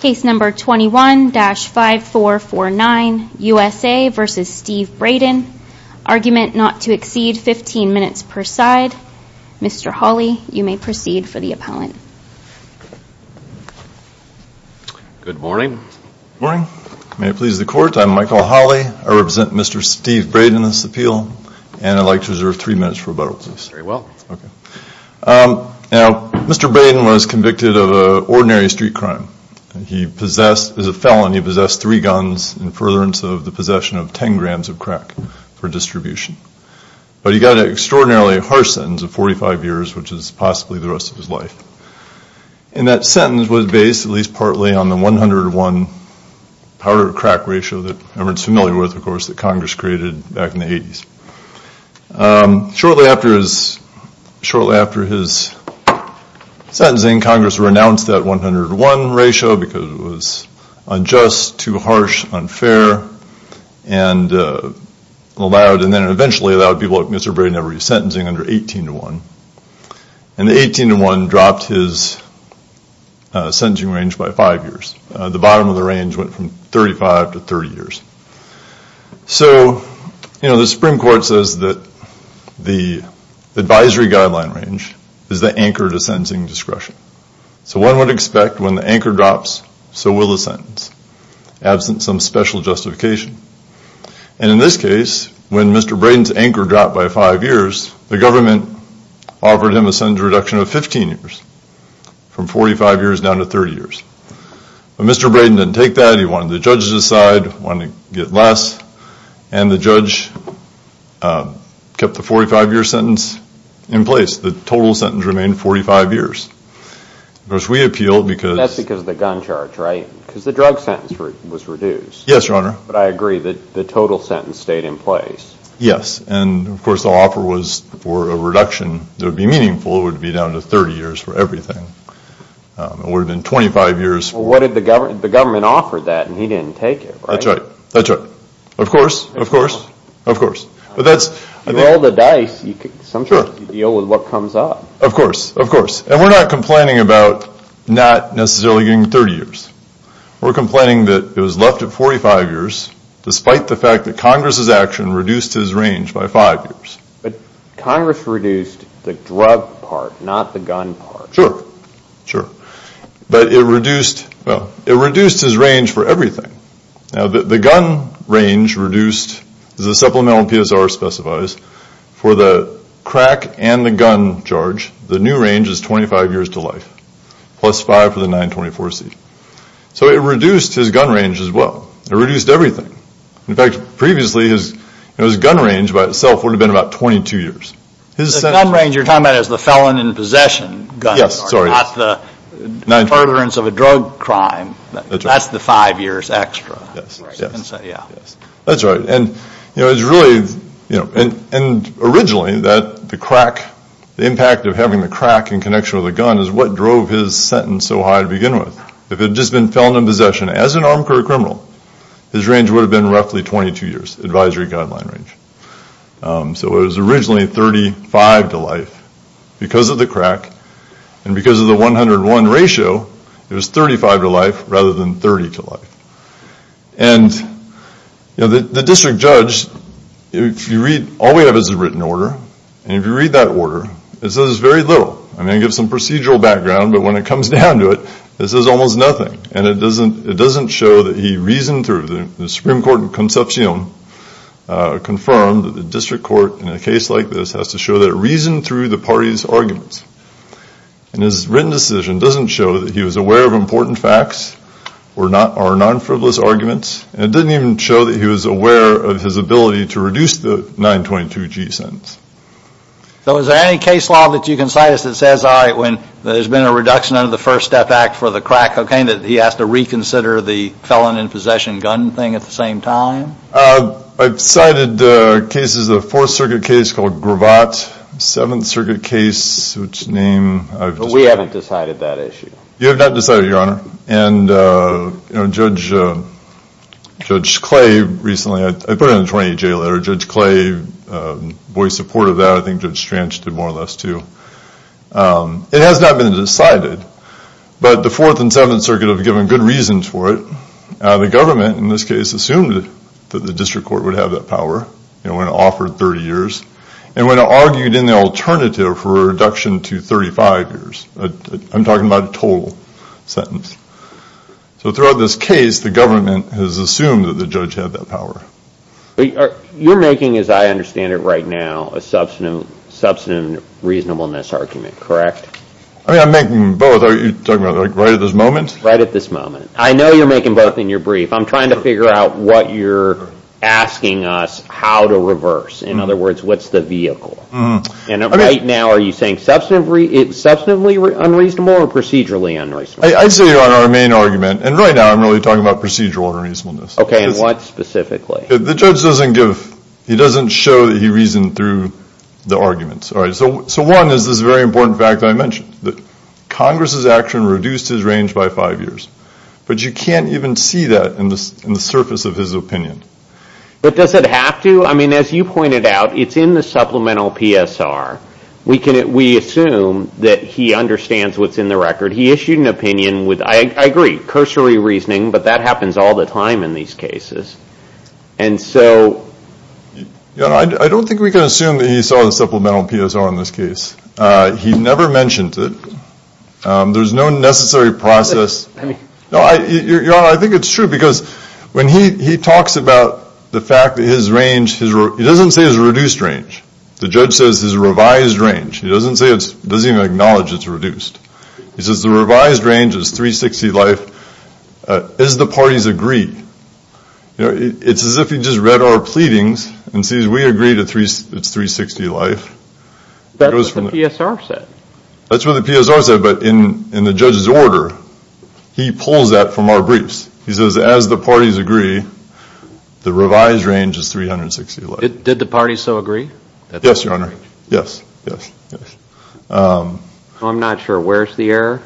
Case number 21-5449, USA v. Steve Braden. Argument not to exceed 15 minutes per side. Mr. Hawley, you may proceed for the appellant. Good morning. Good morning. May it please the court, I'm Michael Hawley. I represent Mr. Steve Braden in this appeal. And I'd like to reserve three minutes for rebuttal, please. Very well. Now, Mr. Braden was convicted of an ordinary street crime. He possessed, as a felon, he possessed three guns in furtherance of the possession of 10 grams of crack for distribution. But he got an extraordinarily harsh sentence of 45 years, which is possibly the rest of his life. And that sentence was based, at least partly, on the 101 powder to crack ratio that everyone's familiar with, of course, that Congress created back in the 80s. Shortly after his sentencing, Congress renounced that 101 ratio because it was unjust, too harsh, unfair, and allowed, and then eventually allowed people like Mr. Braden to have re-sentencing under 18 to 1. And the 18 to 1 dropped his sentencing range by five years. The bottom of the range went from 35 to 30 years. So the Supreme Court says that the advisory guideline range is the anchor to sentencing discretion. So one would expect when the anchor drops, so will the sentence, absent some special justification. And in this case, when Mr. Braden's anchor dropped by five years, the government offered him a sentence reduction of 15 years, from 45 years down to 30 years. But Mr. Braden didn't take that. He wanted the judges to decide, wanted to get less. And the judge kept the 45-year sentence in place. The total sentence remained 45 years. Of course, we appealed because... That's because of the gun charge, right? Because the drug sentence was reduced. Yes, Your Honor. But I agree that the total sentence stayed in place. Yes. And, of course, the offer was for a reduction that would be meaningful. It would be down to 30 years for everything. It would have been 25 years... Well, what did the government... The government offered that, and he didn't take it, right? That's right. That's right. Of course. Of course. Of course. With all the dice, sometimes you deal with what comes up. Of course. Of course. And we're not complaining about not necessarily getting 30 years. We're complaining that it was left at 45 years, despite the fact that Congress's action reduced his range by five years. But Congress reduced the drug part, not the gun part. Sure. Sure. But it reduced his range for everything. Now, the gun range reduced, as the supplemental PSR specifies, for the crack and the gun charge, the new range is 25 years to life, plus five for the 924C. So it reduced his gun range as well. It reduced everything. In fact, previously, his gun range by itself would have been about 22 years. The gun range you're talking about is the felon in possession gun. Yes. Sorry. Not the furtherance of a drug crime. That's right. That's the five years extra. Yes. Yes. Yeah. Yes. That's right. And, you know, it's really, you know, and originally that the crack, the impact of having the crack in connection with the gun is what drove his sentence so high to begin with. If it had just been felon in possession as an armed criminal, his range would have been roughly 22 years, advisory guideline range. So it was originally 35 to life because of the crack and because of the 101 ratio, it was 35 to life rather than 30 to life. And, you know, the district judge, if you read, all we have is a written order, and if you read that order, it says very little. I mean, it gives some procedural background, but when it comes down to it, it says almost nothing, and it doesn't show that he reasoned through. The Supreme Court in Concepcion confirmed that the district court in a case like this has to show that it reasoned through the party's arguments. And his written decision doesn't show that he was aware of important facts or non-frivolous arguments, and it didn't even show that he was aware of his ability to reduce the 922G sentence. So is there any case law that you can cite that says, all right, when there's been a reduction under the First Step Act for the crack cocaine that he has to reconsider the felon in possession gun thing at the same time? I've cited cases, a Fourth Circuit case called Gravatt, a Seventh Circuit case whose name I've described. But we haven't decided that issue. You have not decided, Your Honor. And, you know, Judge Clay recently, I put it in the 20-J letter, Judge Clay voiced support of that. I think Judge Stranch did more or less, too. It has not been decided, but the Fourth and Seventh Circuit have given good reason for it. The government, in this case, assumed that the district court would have that power when it offered 30 years, and when it argued in the alternative for a reduction to 35 years. I'm talking about a total sentence. So throughout this case, the government has assumed that the judge had that power. You're making, as I understand it right now, a substantive reasonableness argument, correct? I mean, I'm making both. Are you talking about, like, right at this moment? Right at this moment. I know you're making both in your brief. I'm trying to figure out what you're asking us how to reverse. In other words, what's the vehicle? And right now, are you saying substantively unreasonable or procedurally unreasonable? I'd say you're on our main argument, and right now I'm really talking about procedural unreasonableness. Okay, and what specifically? The judge doesn't give, he doesn't show that he reasoned through the arguments. All right, so one is this very important fact that I mentioned, that Congress's action reduced his range by five years, but you can't even see that in the surface of his opinion. But does it have to? I mean, as you pointed out, it's in the supplemental PSR. We assume that he understands what's in the record. He issued an opinion with, I agree, cursory reasoning, but that happens all the time in these cases. And so... Your Honor, I don't think we can assume that he saw the supplemental PSR in this case. He never mentioned it. There's no necessary process. Your Honor, I think it's true, because when he talks about the fact that his range, he doesn't say his reduced range. The judge says his revised range. He doesn't even acknowledge it's reduced. He says the revised range is 360 life, as the parties agree. It's as if he just read our pleadings and sees we agree it's 360 life. That's what the PSR said. That's what the PSR said, but in the judge's order, he pulls that from our briefs. He says, as the parties agree, the revised range is 360 life. Did the parties so agree? Yes, Your Honor. Yes, yes, yes. I'm not sure. Where's the error?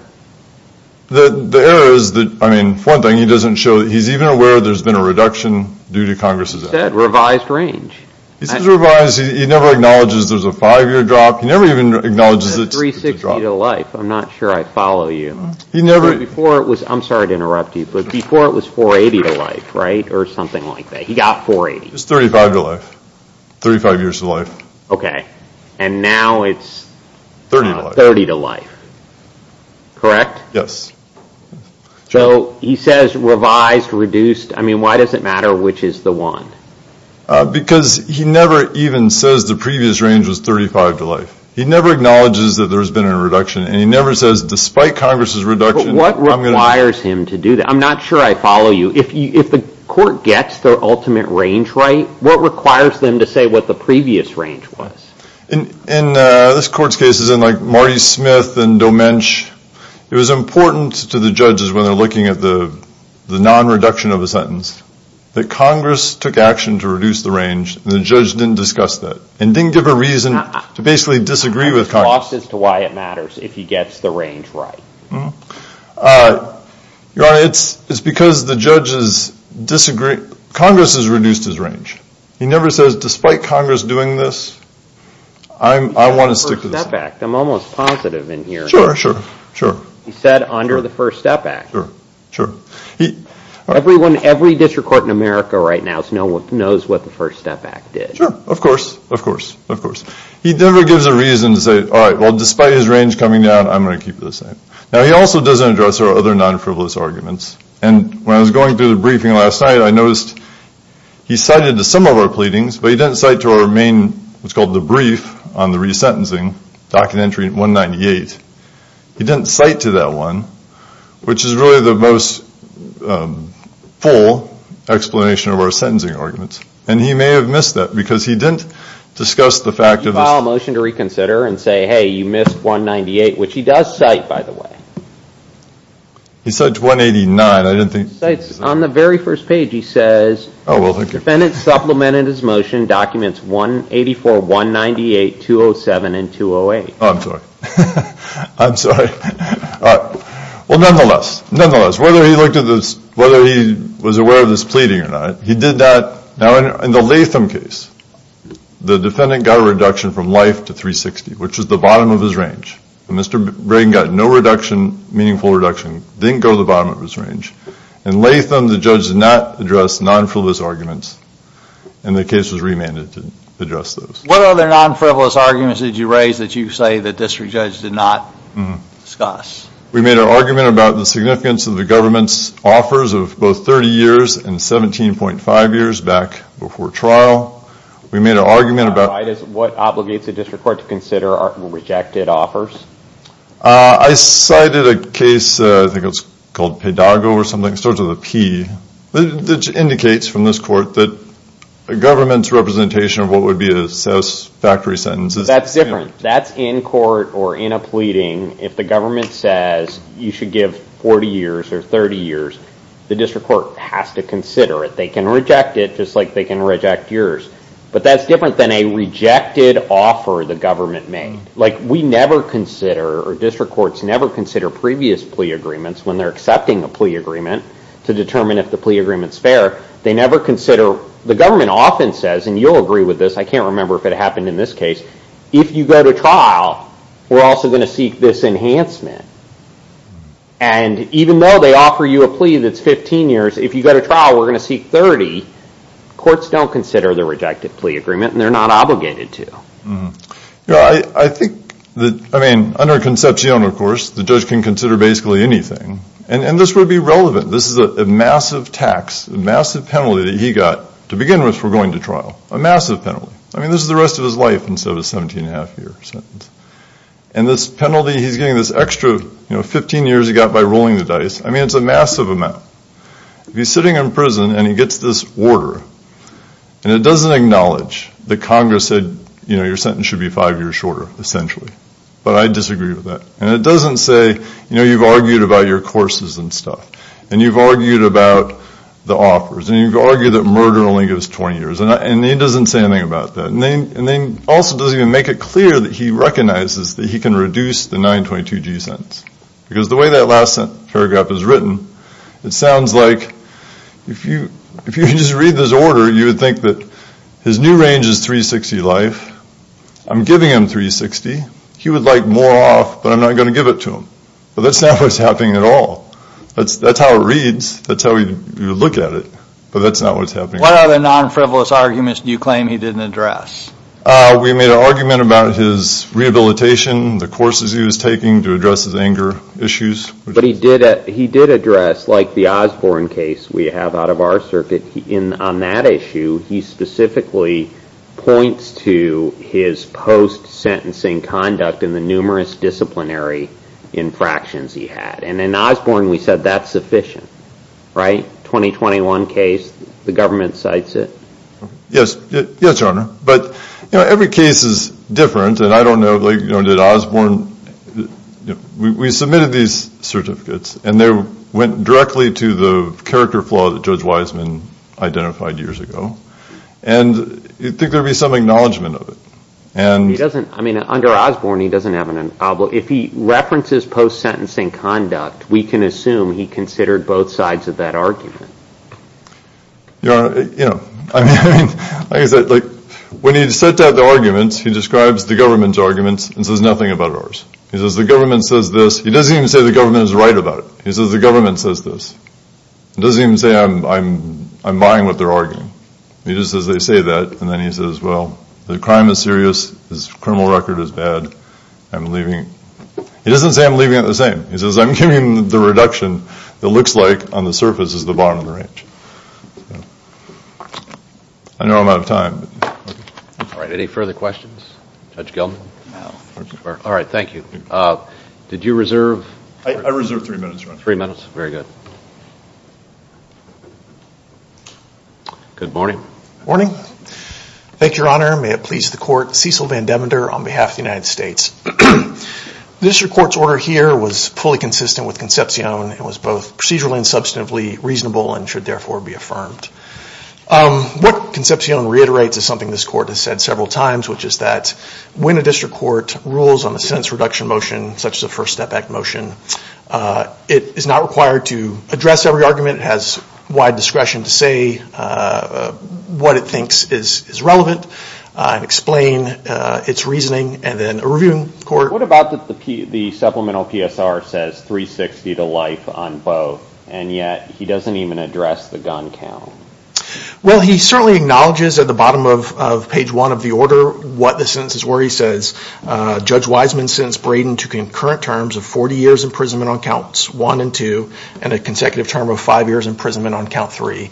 The error is that, I mean, for one thing, he doesn't show that he's even aware there's been a reduction due to Congress's action. He said revised range. He says revised. He never acknowledges there's a five-year drop. He never even acknowledges it's a drop. It's 360 to life. I'm not sure I follow you. I'm sorry to interrupt you, but before it was 480 to life, right, or something like that. He got 480. It was 35 to life, 35 years to life. Okay. And now it's 30 to life. Correct? Yes. So he says revised, reduced. I mean, why does it matter which is the one? Because he never even says the previous range was 35 to life. He never acknowledges that there's been a reduction, and he never says, despite Congress's reduction, I'm going to. But what requires him to do that? I'm not sure I follow you. If the court gets their ultimate range right, what requires them to say what the previous range was? In this court's case, as in, like, Marty Smith and Domench, it was important to the judges when they're looking at the non-reduction of a sentence that Congress took action to reduce the range, and the judge didn't discuss that, and didn't give a reason to basically disagree with Congress. He's lost as to why it matters if he gets the range right. Your Honor, it's because the judges disagree. Congress has reduced his range. He never says, despite Congress doing this, I want to stick to this. He said under the First Step Act. I'm almost positive in here. Sure, sure, sure. He said under the First Step Act. Sure, sure. Every district court in America right now knows what the First Step Act did. Sure, of course, of course, of course. He never gives a reason to say, all right, well, despite his range coming down, I'm going to keep it the same. Now, he also doesn't address our other non-frivolous arguments, and when I was going through the briefing last night, I noticed he cited some of our pleadings, but he didn't cite to our main, what's called the brief on the resentencing, docket entry 198. He didn't cite to that one, which is really the most full explanation of our sentencing arguments, and he may have missed that because he didn't discuss the fact of this. Did you file a motion to reconsider and say, hey, you missed 198, which he does cite, by the way. He cites 189. He cites, on the very first page he says, defendant supplemented his motion documents 184, 198, 207, and 208. Oh, I'm sorry. I'm sorry. Well, nonetheless, whether he was aware of this pleading or not, he did that. Now, in the Latham case, the defendant got a reduction from life to 360, which is the bottom of his range. Mr. Brayden got no reduction, meaningful reduction, didn't go to the bottom of his range. In Latham, the judge did not address non-frivolous arguments, and the case was remanded to address those. What other non-frivolous arguments did you raise that you say the district judge did not discuss? We made an argument about the significance of the government's offers of both 30 years and 17.5 years back before trial. We made an argument about what obligates a district court to consider rejected offers. I cited a case, I think it was called Pedago or something. It starts with a P. It indicates from this court that a government's representation of what would be a satisfactory sentence is That's different. That's in court or in a pleading. If the government says you should give 40 years or 30 years, the district court has to consider it. They can reject it just like they can reject yours. But that's different than a rejected offer the government made. We never consider, or district courts never consider previous plea agreements when they're accepting a plea agreement to determine if the plea agreement's fair. They never consider, the government often says, and you'll agree with this, I can't remember if it happened in this case, if you go to trial, we're also going to seek this enhancement. And even though they offer you a plea that's 15 years, if you go to trial, we're going to seek 30. Courts don't consider the rejected plea agreement, and they're not obligated to. I think that, I mean, under Concepcion, of course, the judge can consider basically anything. And this would be relevant. This is a massive tax, a massive penalty that he got to begin with for going to trial. A massive penalty. I mean, this is the rest of his life instead of a 17-and-a-half-year sentence. And this penalty, he's getting this extra 15 years he got by rolling the dice. I mean, it's a massive amount. If he's sitting in prison and he gets this order, and it doesn't acknowledge that Congress said, you know, your sentence should be five years shorter, essentially. But I disagree with that. And it doesn't say, you know, you've argued about your courses and stuff. And you've argued about the offers. And you've argued that murder only gives 20 years. And he doesn't say anything about that. And then also doesn't even make it clear that he recognizes that he can reduce the 922G sentence. Because the way that last paragraph is written, it sounds like if you just read this order, you would think that his new range is 360 life. I'm giving him 360. He would like more off, but I'm not going to give it to him. But that's not what's happening at all. That's how it reads. That's how you look at it. But that's not what's happening. What other non-frivolous arguments do you claim he didn't address? We made an argument about his rehabilitation, the courses he was taking to address his anger issues. But he did address, like the Osborne case we have out of our circuit, on that issue he specifically points to his post-sentencing conduct and the numerous disciplinary infractions he had. And in Osborne we said that's sufficient, right? The government cites it. Yes, Your Honor. But every case is different. And I don't know, did Osborne, we submitted these certificates and they went directly to the character flaw that Judge Wiseman identified years ago. And you'd think there would be some acknowledgement of it. He doesn't, I mean, under Osborne he doesn't have an, if he references post-sentencing conduct, we can assume he considered both sides of that argument. Your Honor, you know, like I said, when he sets out the arguments, he describes the government's arguments and says nothing about ours. He says the government says this. He doesn't even say the government is right about it. He says the government says this. He doesn't even say I'm buying what they're arguing. He just says they say that. And then he says, well, the crime is serious. His criminal record is bad. I'm leaving. He doesn't say I'm leaving it the same. He says I'm giving the reduction that looks like on the surface is the bottom of the range. I know I'm out of time. All right. Any further questions? Judge Gelman? No. All right. Thank you. Did you reserve? I reserved three minutes, Your Honor. Three minutes. Very good. Good morning. Morning. Thank you, Your Honor. May it please the Court. Cecil Van Devender on behalf of the United States. The district court's order here was fully consistent with Concepcion. It was both procedurally and substantively reasonable and should therefore be affirmed. What Concepcion reiterates is something this court has said several times, which is that when a district court rules on a sentence reduction motion, such as a First Step Act motion, it is not required to address every argument. It has wide discretion to say what it thinks is relevant and explain its reasoning. What about that the supplemental PSR says 360 to life on both, and yet he doesn't even address the gun count? Well, he certainly acknowledges at the bottom of page one of the order what the sentences were. He says Judge Wiseman sentenced Braden to concurrent terms of 40 years imprisonment on counts one and two and a consecutive term of five years imprisonment on count three.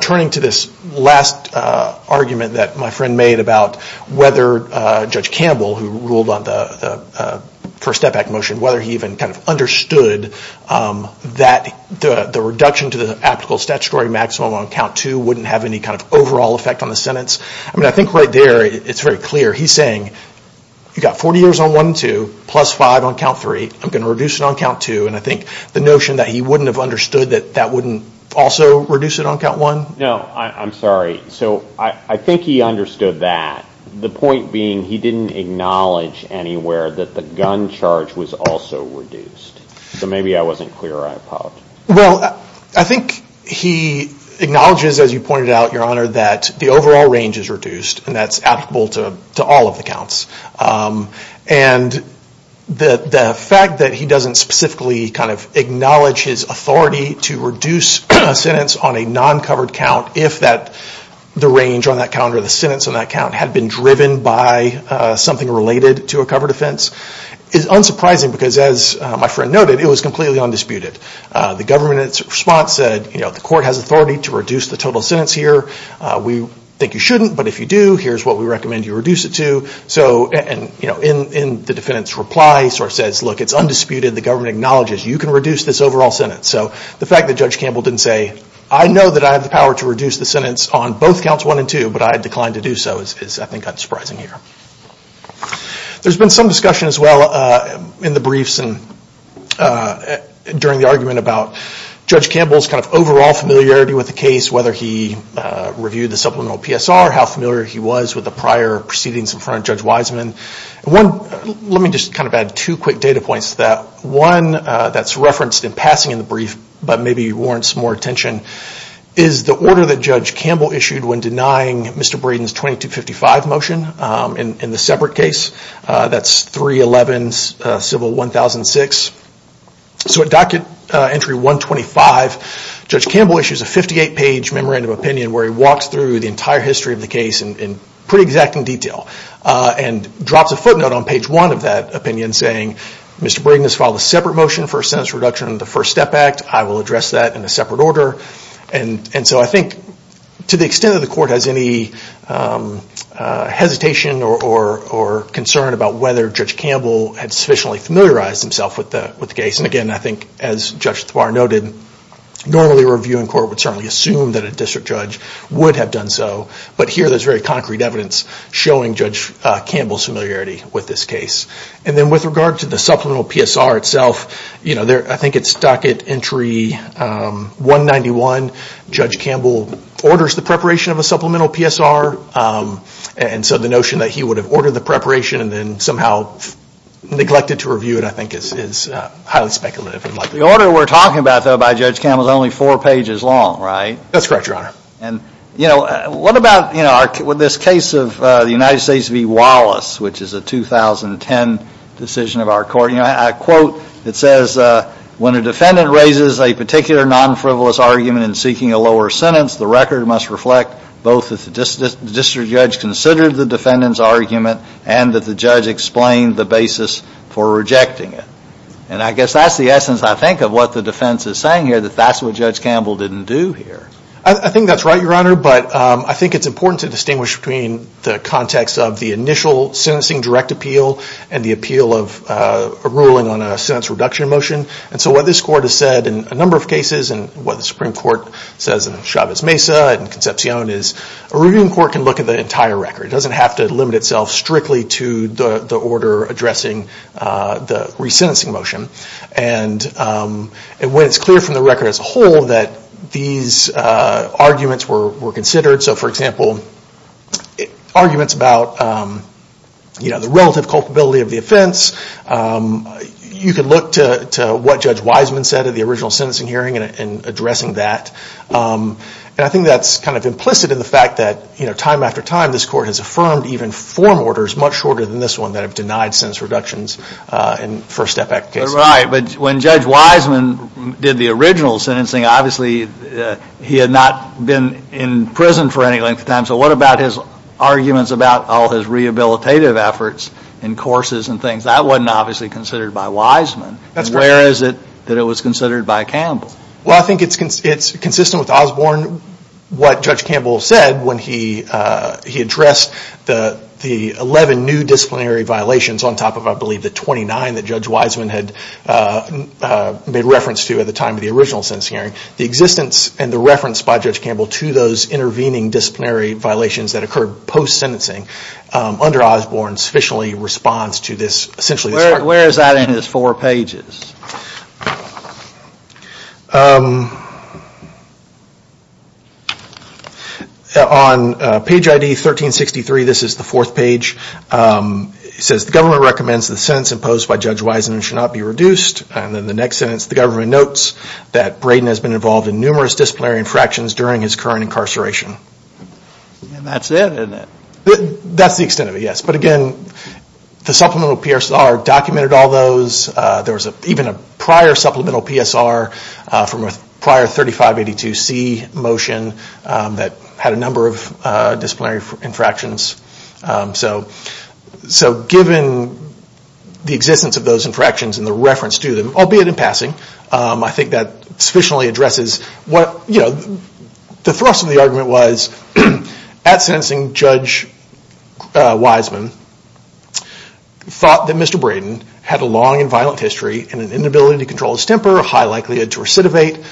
Turning to this last argument that my friend made about whether Judge Campbell, who ruled on the First Step Act motion, whether he even understood that the reduction to the applicable statutory maximum on count two wouldn't have any kind of overall effect on the sentence. I think right there it's very clear. He's saying you've got 40 years on one and two plus five on count three. I'm going to reduce it on count two. And I think the notion that he wouldn't have understood that that wouldn't also reduce it on count one. No, I'm sorry. So I think he understood that. The point being he didn't acknowledge anywhere that the gun charge was also reduced. So maybe I wasn't clear. Well, I think he acknowledges, as you pointed out, Your Honor, that the overall range is reduced and that's applicable to all of the counts. And the fact that he doesn't specifically acknowledge his authority to reduce a sentence on a non-covered count if the range on that count or the sentence on that count had been driven by something related to a covered offense is unsurprising because, as my friend noted, it was completely undisputed. The government's response said the court has authority to reduce the total sentence here. We think you shouldn't, but if you do, here's what we recommend you reduce it to. And the defendant's reply sort of says, look, it's undisputed. The government acknowledges. You can reduce this overall sentence. So the fact that Judge Campbell didn't say, I know that I have the power to reduce the sentence on both counts one and two, but I declined to do so, is I think unsurprising here. There's been some discussion as well in the briefs and during the argument about Judge Campbell's kind of overall familiarity with the case, whether he reviewed the supplemental PSR, how familiar he was with the prior proceedings in front of Judge Wiseman. Let me just kind of add two quick data points to that. One that's referenced in passing in the brief, but maybe warrants more attention, is the order that Judge Campbell issued when denying Mr. Braden's 2255 motion in the separate case. That's 311 civil 1006. So at docket entry 125, Judge Campbell issues a 58-page memorandum of opinion where he walks through the entire history of the case in pretty exacting detail and drops a footnote on page one of that opinion saying, Mr. Braden has filed a separate motion for a sentence reduction in the First Step Act. I will address that in a separate order. And so I think to the extent that the court has any hesitation or concern about whether Judge Campbell had sufficiently familiarized himself with the case, and again, I think as Judge Thwar noted, normally a reviewing court would certainly assume that a district judge would have done so. But here there's very concrete evidence showing Judge Campbell's familiarity with this case. And then with regard to the supplemental PSR itself, I think at docket entry 191, Judge Campbell orders the preparation of a supplemental PSR. And so the notion that he would have ordered the preparation and then somehow neglected to review it, I think is highly speculative. The order we're talking about, though, by Judge Campbell is only four pages long, right? That's correct, Your Honor. And what about this case of the United States v. Wallace, which is a 2010 decision of our court? I quote, it says, when a defendant raises a particular non-frivolous argument in seeking a lower sentence, the record must reflect both that the district judge considered the defendant's argument and that the judge explained the basis for rejecting it. And I guess that's the essence, I think, of what the defense is saying here, that that's what Judge Campbell didn't do here. I think that's right, Your Honor. But I think it's important to distinguish between the context of the initial sentencing direct appeal and the appeal of a ruling on a sentence reduction motion. And so what this court has said in a number of cases and what the Supreme Court says in Chavez-Mesa and Concepcion is a reviewing court can look at the entire record. It doesn't have to limit itself strictly to the order addressing the resentencing motion. And when it's clear from the record as a whole that these arguments were considered, so for example, arguments about the relative culpability of the offense, you can look to what Judge Wiseman said at the original sentencing hearing in addressing that. And I think that's kind of implicit in the fact that, you know, time after time, this court has affirmed even form orders much shorter than this one that have denied sentence reductions in first effect cases. Right, but when Judge Wiseman did the original sentencing, obviously he had not been in prison for any length of time. So what about his arguments about all his rehabilitative efforts in courses and things? That wasn't obviously considered by Wiseman. That's correct. Where is it that it was considered by Campbell? Well, I think it's consistent with Osborne, what Judge Campbell said when he addressed the 11 new disciplinary violations on top of, I believe, the 29 that Judge Wiseman had made reference to at the time of the original sentencing hearing. The existence and the reference by Judge Campbell to those intervening disciplinary violations that occurred post-sentencing under Osborne's officially response to this. Where is that in his four pages? On page ID 1363, this is the fourth page, it says, the government recommends the sentence imposed by Judge Wiseman should not be reduced. And then the next sentence, the government notes that Braden has been involved in numerous disciplinary infractions during his current incarceration. And that's it, isn't it? That's the extent of it, yes. But again, the supplemental PSR documented all those. There was even a prior supplemental PSR from a prior 3582C motion that had a number of disciplinary infractions. So given the existence of those infractions and the reference to them, albeit in passing, I think that sufficiently addresses what, you know, the thrust of the argument was at sentencing, Judge Wiseman thought that Mr. Braden had a long and violent history and an inability to control his temper, a high likelihood to recidivate.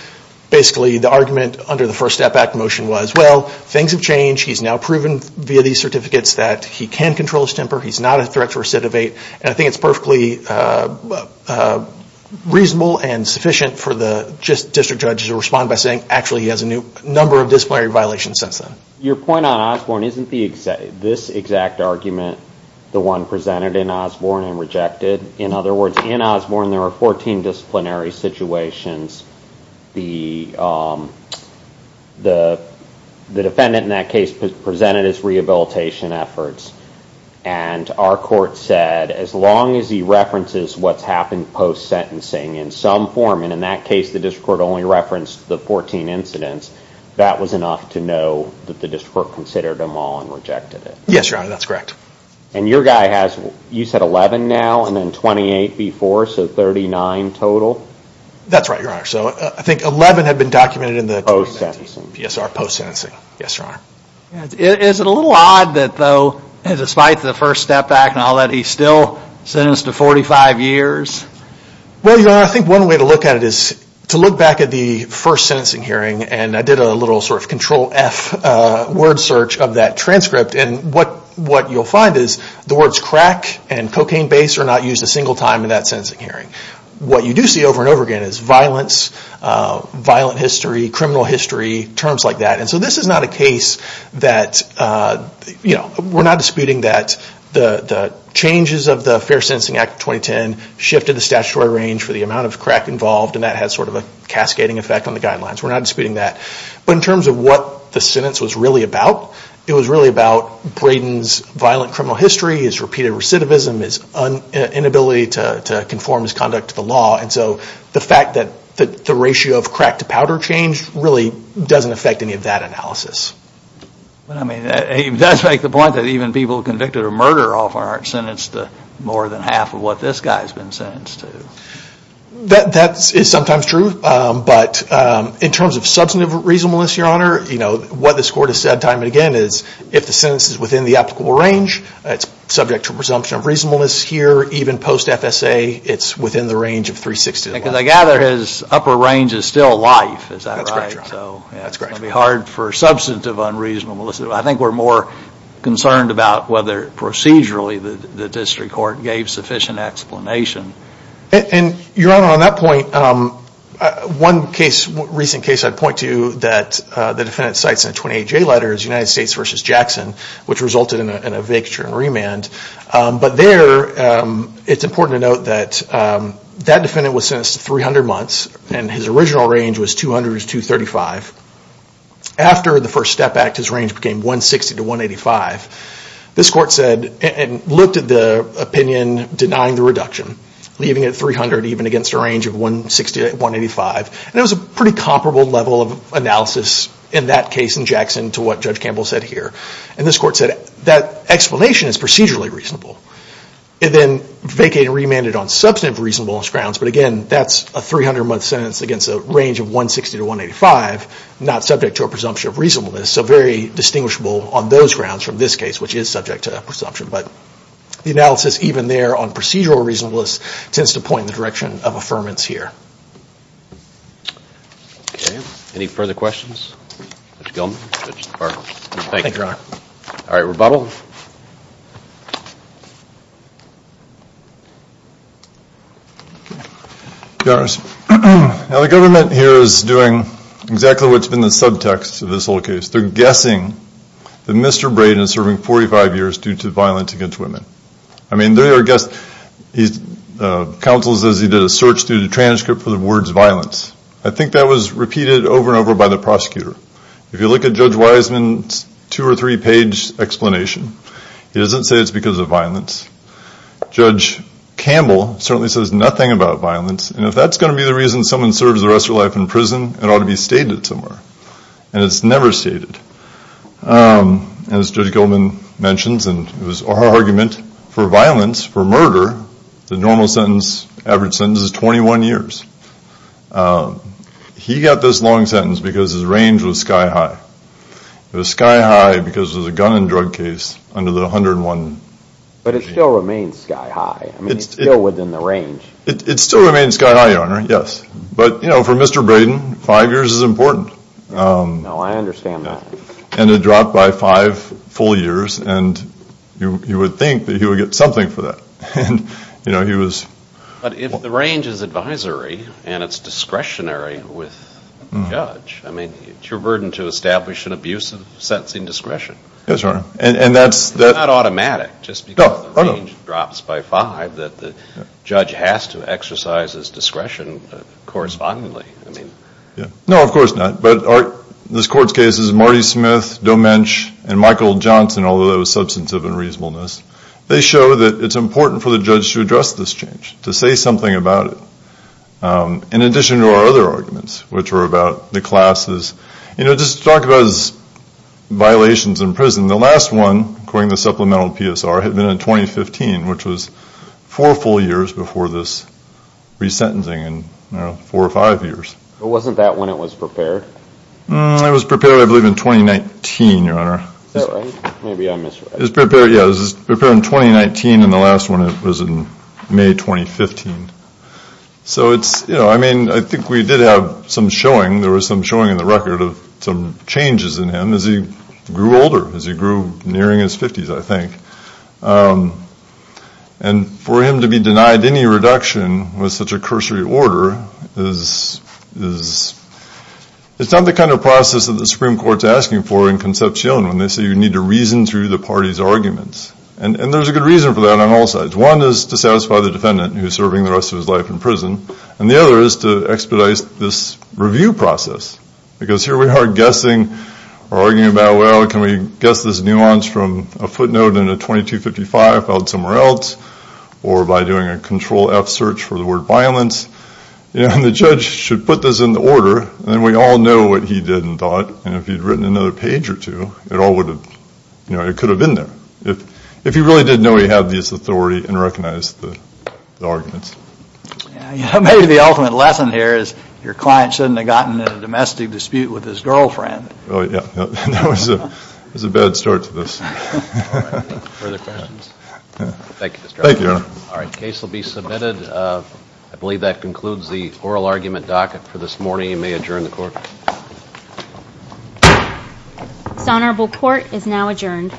Basically, the argument under the First Step Act motion was, well, things have changed, he's now proven via these certificates that he can control his temper, he's not a threat to recidivate, and I think it's perfectly reasonable and sufficient for the district judge to respond by saying, actually he has a number of disciplinary violations since then. Your point on Osborne, isn't this exact argument the one presented in Osborne and rejected? In other words, in Osborne there are 14 disciplinary situations. The defendant in that case presented his rehabilitation efforts. And our court said as long as he references what's happened post-sentencing in some form, and in that case the district court only referenced the 14 incidents, that was enough to know that the district court considered them all and rejected it. Yes, Your Honor, that's correct. And your guy has, you said 11 now and then 28 before, so 39 total? That's right, Your Honor. So I think 11 had been documented in the document. Post-sentencing. Yes, our post-sentencing. Yes, Your Honor. Is it a little odd that though, despite the first step back and all that, he's still sentenced to 45 years? Well, Your Honor, I think one way to look at it is to look back at the first sentencing hearing, and I did a little sort of control F word search of that transcript, and what you'll find is the words crack and cocaine base are not used a single time in that sentencing hearing. What you do see over and over again is violence, violent history, criminal history, terms like that. And so this is not a case that, you know, we're not disputing that the changes of the Fair Sentencing Act of 2010 shifted the statutory range for the amount of crack involved, and that has sort of a cascading effect on the guidelines. We're not disputing that. But in terms of what the sentence was really about, it was really about Braden's violent criminal history, his repeated recidivism, his inability to conform his conduct to the law. And so the fact that the ratio of crack to powder changed really doesn't affect any of that analysis. But I mean, it does make the point that even people convicted of murder often aren't sentenced to more than half of what this guy's been sentenced to. That is sometimes true. But in terms of substantive reasonableness, Your Honor, you know, what this court has said time and again is if the sentence is within the applicable range, it's subject to presumption of reasonableness here. Even post-FSA, it's within the range of 360. Because I gather his upper range is still life, is that right? That's correct, Your Honor. So it's going to be hard for substantive unreasonable. I think we're more concerned about whether procedurally the district court gave sufficient explanation. And, Your Honor, on that point, one recent case I'd point to that the defendant cites in a 28-J letter is United States v. Jackson, which resulted in a vacature and remand. But there, it's important to note that that defendant was sentenced to 300 months and his original range was 200 to 235. After the first step back, his range became 160 to 185. This court said and looked at the opinion denying the reduction, leaving it at 300 even against a range of 160 to 185. And it was a pretty comparable level of analysis in that case in Jackson to what Judge Campbell said here. And this court said that explanation is procedurally reasonable. It then vacated and remanded on substantive reasonableness grounds. But again, that's a 300-month sentence against a range of 160 to 185, not subject to a presumption of reasonableness. So very distinguishable on those grounds from this case, which is subject to presumption. But the analysis even there on procedural reasonableness tends to point in the direction of affirmance here. Okay. Any further questions? Mr. Gilman, Judge DeParle. Thank you, Your Honor. All right, rebuttal. Your Honor, the government here is doing exactly what's been the subtext of this whole case. They're guessing that Mr. Braden is serving 45 years due to violence against women. I mean, they are guessing. Counsel says he did a search through the transcript for the words violence. I think that was repeated over and over by the prosecutor. If you look at Judge Wiseman's two- or three-page explanation, he doesn't say it's because of violence. Judge Campbell certainly says nothing about violence. And if that's going to be the reason someone serves the rest of their life in prison, it ought to be stated somewhere. And it's never stated. As Judge Gilman mentions, and it was our argument for violence, for murder, the normal sentence, average sentence, is 21 years. He got this long sentence because his range was sky high. It was sky high because it was a gun and drug case under the 101. But it still remains sky high. I mean, it's still within the range. It still remains sky high, Your Honor, yes. But, you know, for Mr. Braden, five years is important. No, I understand that. And it dropped by five full years, and you would think that he would get something for that. But if the range is advisory and it's discretionary with the judge, I mean, it's your burden to establish an abuse of sentencing discretion. Yes, Your Honor. It's not automatic just because the range drops by five that the judge has to exercise his discretion correspondingly. No, of course not. But this Court's cases, Marty Smith, Doe Mensch, and Michael Johnson, although there was substantive unreasonableness, they show that it's important for the judge to address this change, to say something about it, in addition to our other arguments, which were about the classes. You know, just to talk about his violations in prison, the last one, according to the supplemental PSR, had been in 2015, which was four full years before this resentencing, and, you know, four or five years. But wasn't that when it was prepared? It was prepared, I believe, in 2019, Your Honor. Is that right? Maybe I misread it. It was prepared, yeah, it was prepared in 2019, and the last one was in May 2015. So it's, you know, I mean, I think we did have some showing, there was some showing in the record of some changes in him as he grew older, as he grew nearing his 50s, I think. And for him to be denied any reduction with such a cursory order is, it's not the kind of process that the Supreme Court's asking for in Concepcion when they say you need to reason through the party's arguments. And there's a good reason for that on all sides. One is to satisfy the defendant who's serving the rest of his life in prison, and the other is to expedite this review process, because here we are guessing or arguing about, well, can we guess this nuance from a footnote in a 2255 filed somewhere else, or by doing a Control-F search for the word violence, and the judge should put this in the order, and then we all know what he did and thought, and if he'd written another page or two, it all would have, you know, it could have been there if he really did know he had this authority and recognized the arguments. Yeah, maybe the ultimate lesson here is your client shouldn't have gotten in a domestic dispute with his girlfriend. Oh, yeah. That was a bad start to this. All right. Further questions? Yeah. Thank you, Mr. Drescher. Thank you, Your Honor. All right. The case will be submitted. I believe that concludes the oral argument docket for this morning. The committee may adjourn the court. This honorable court is now adjourned.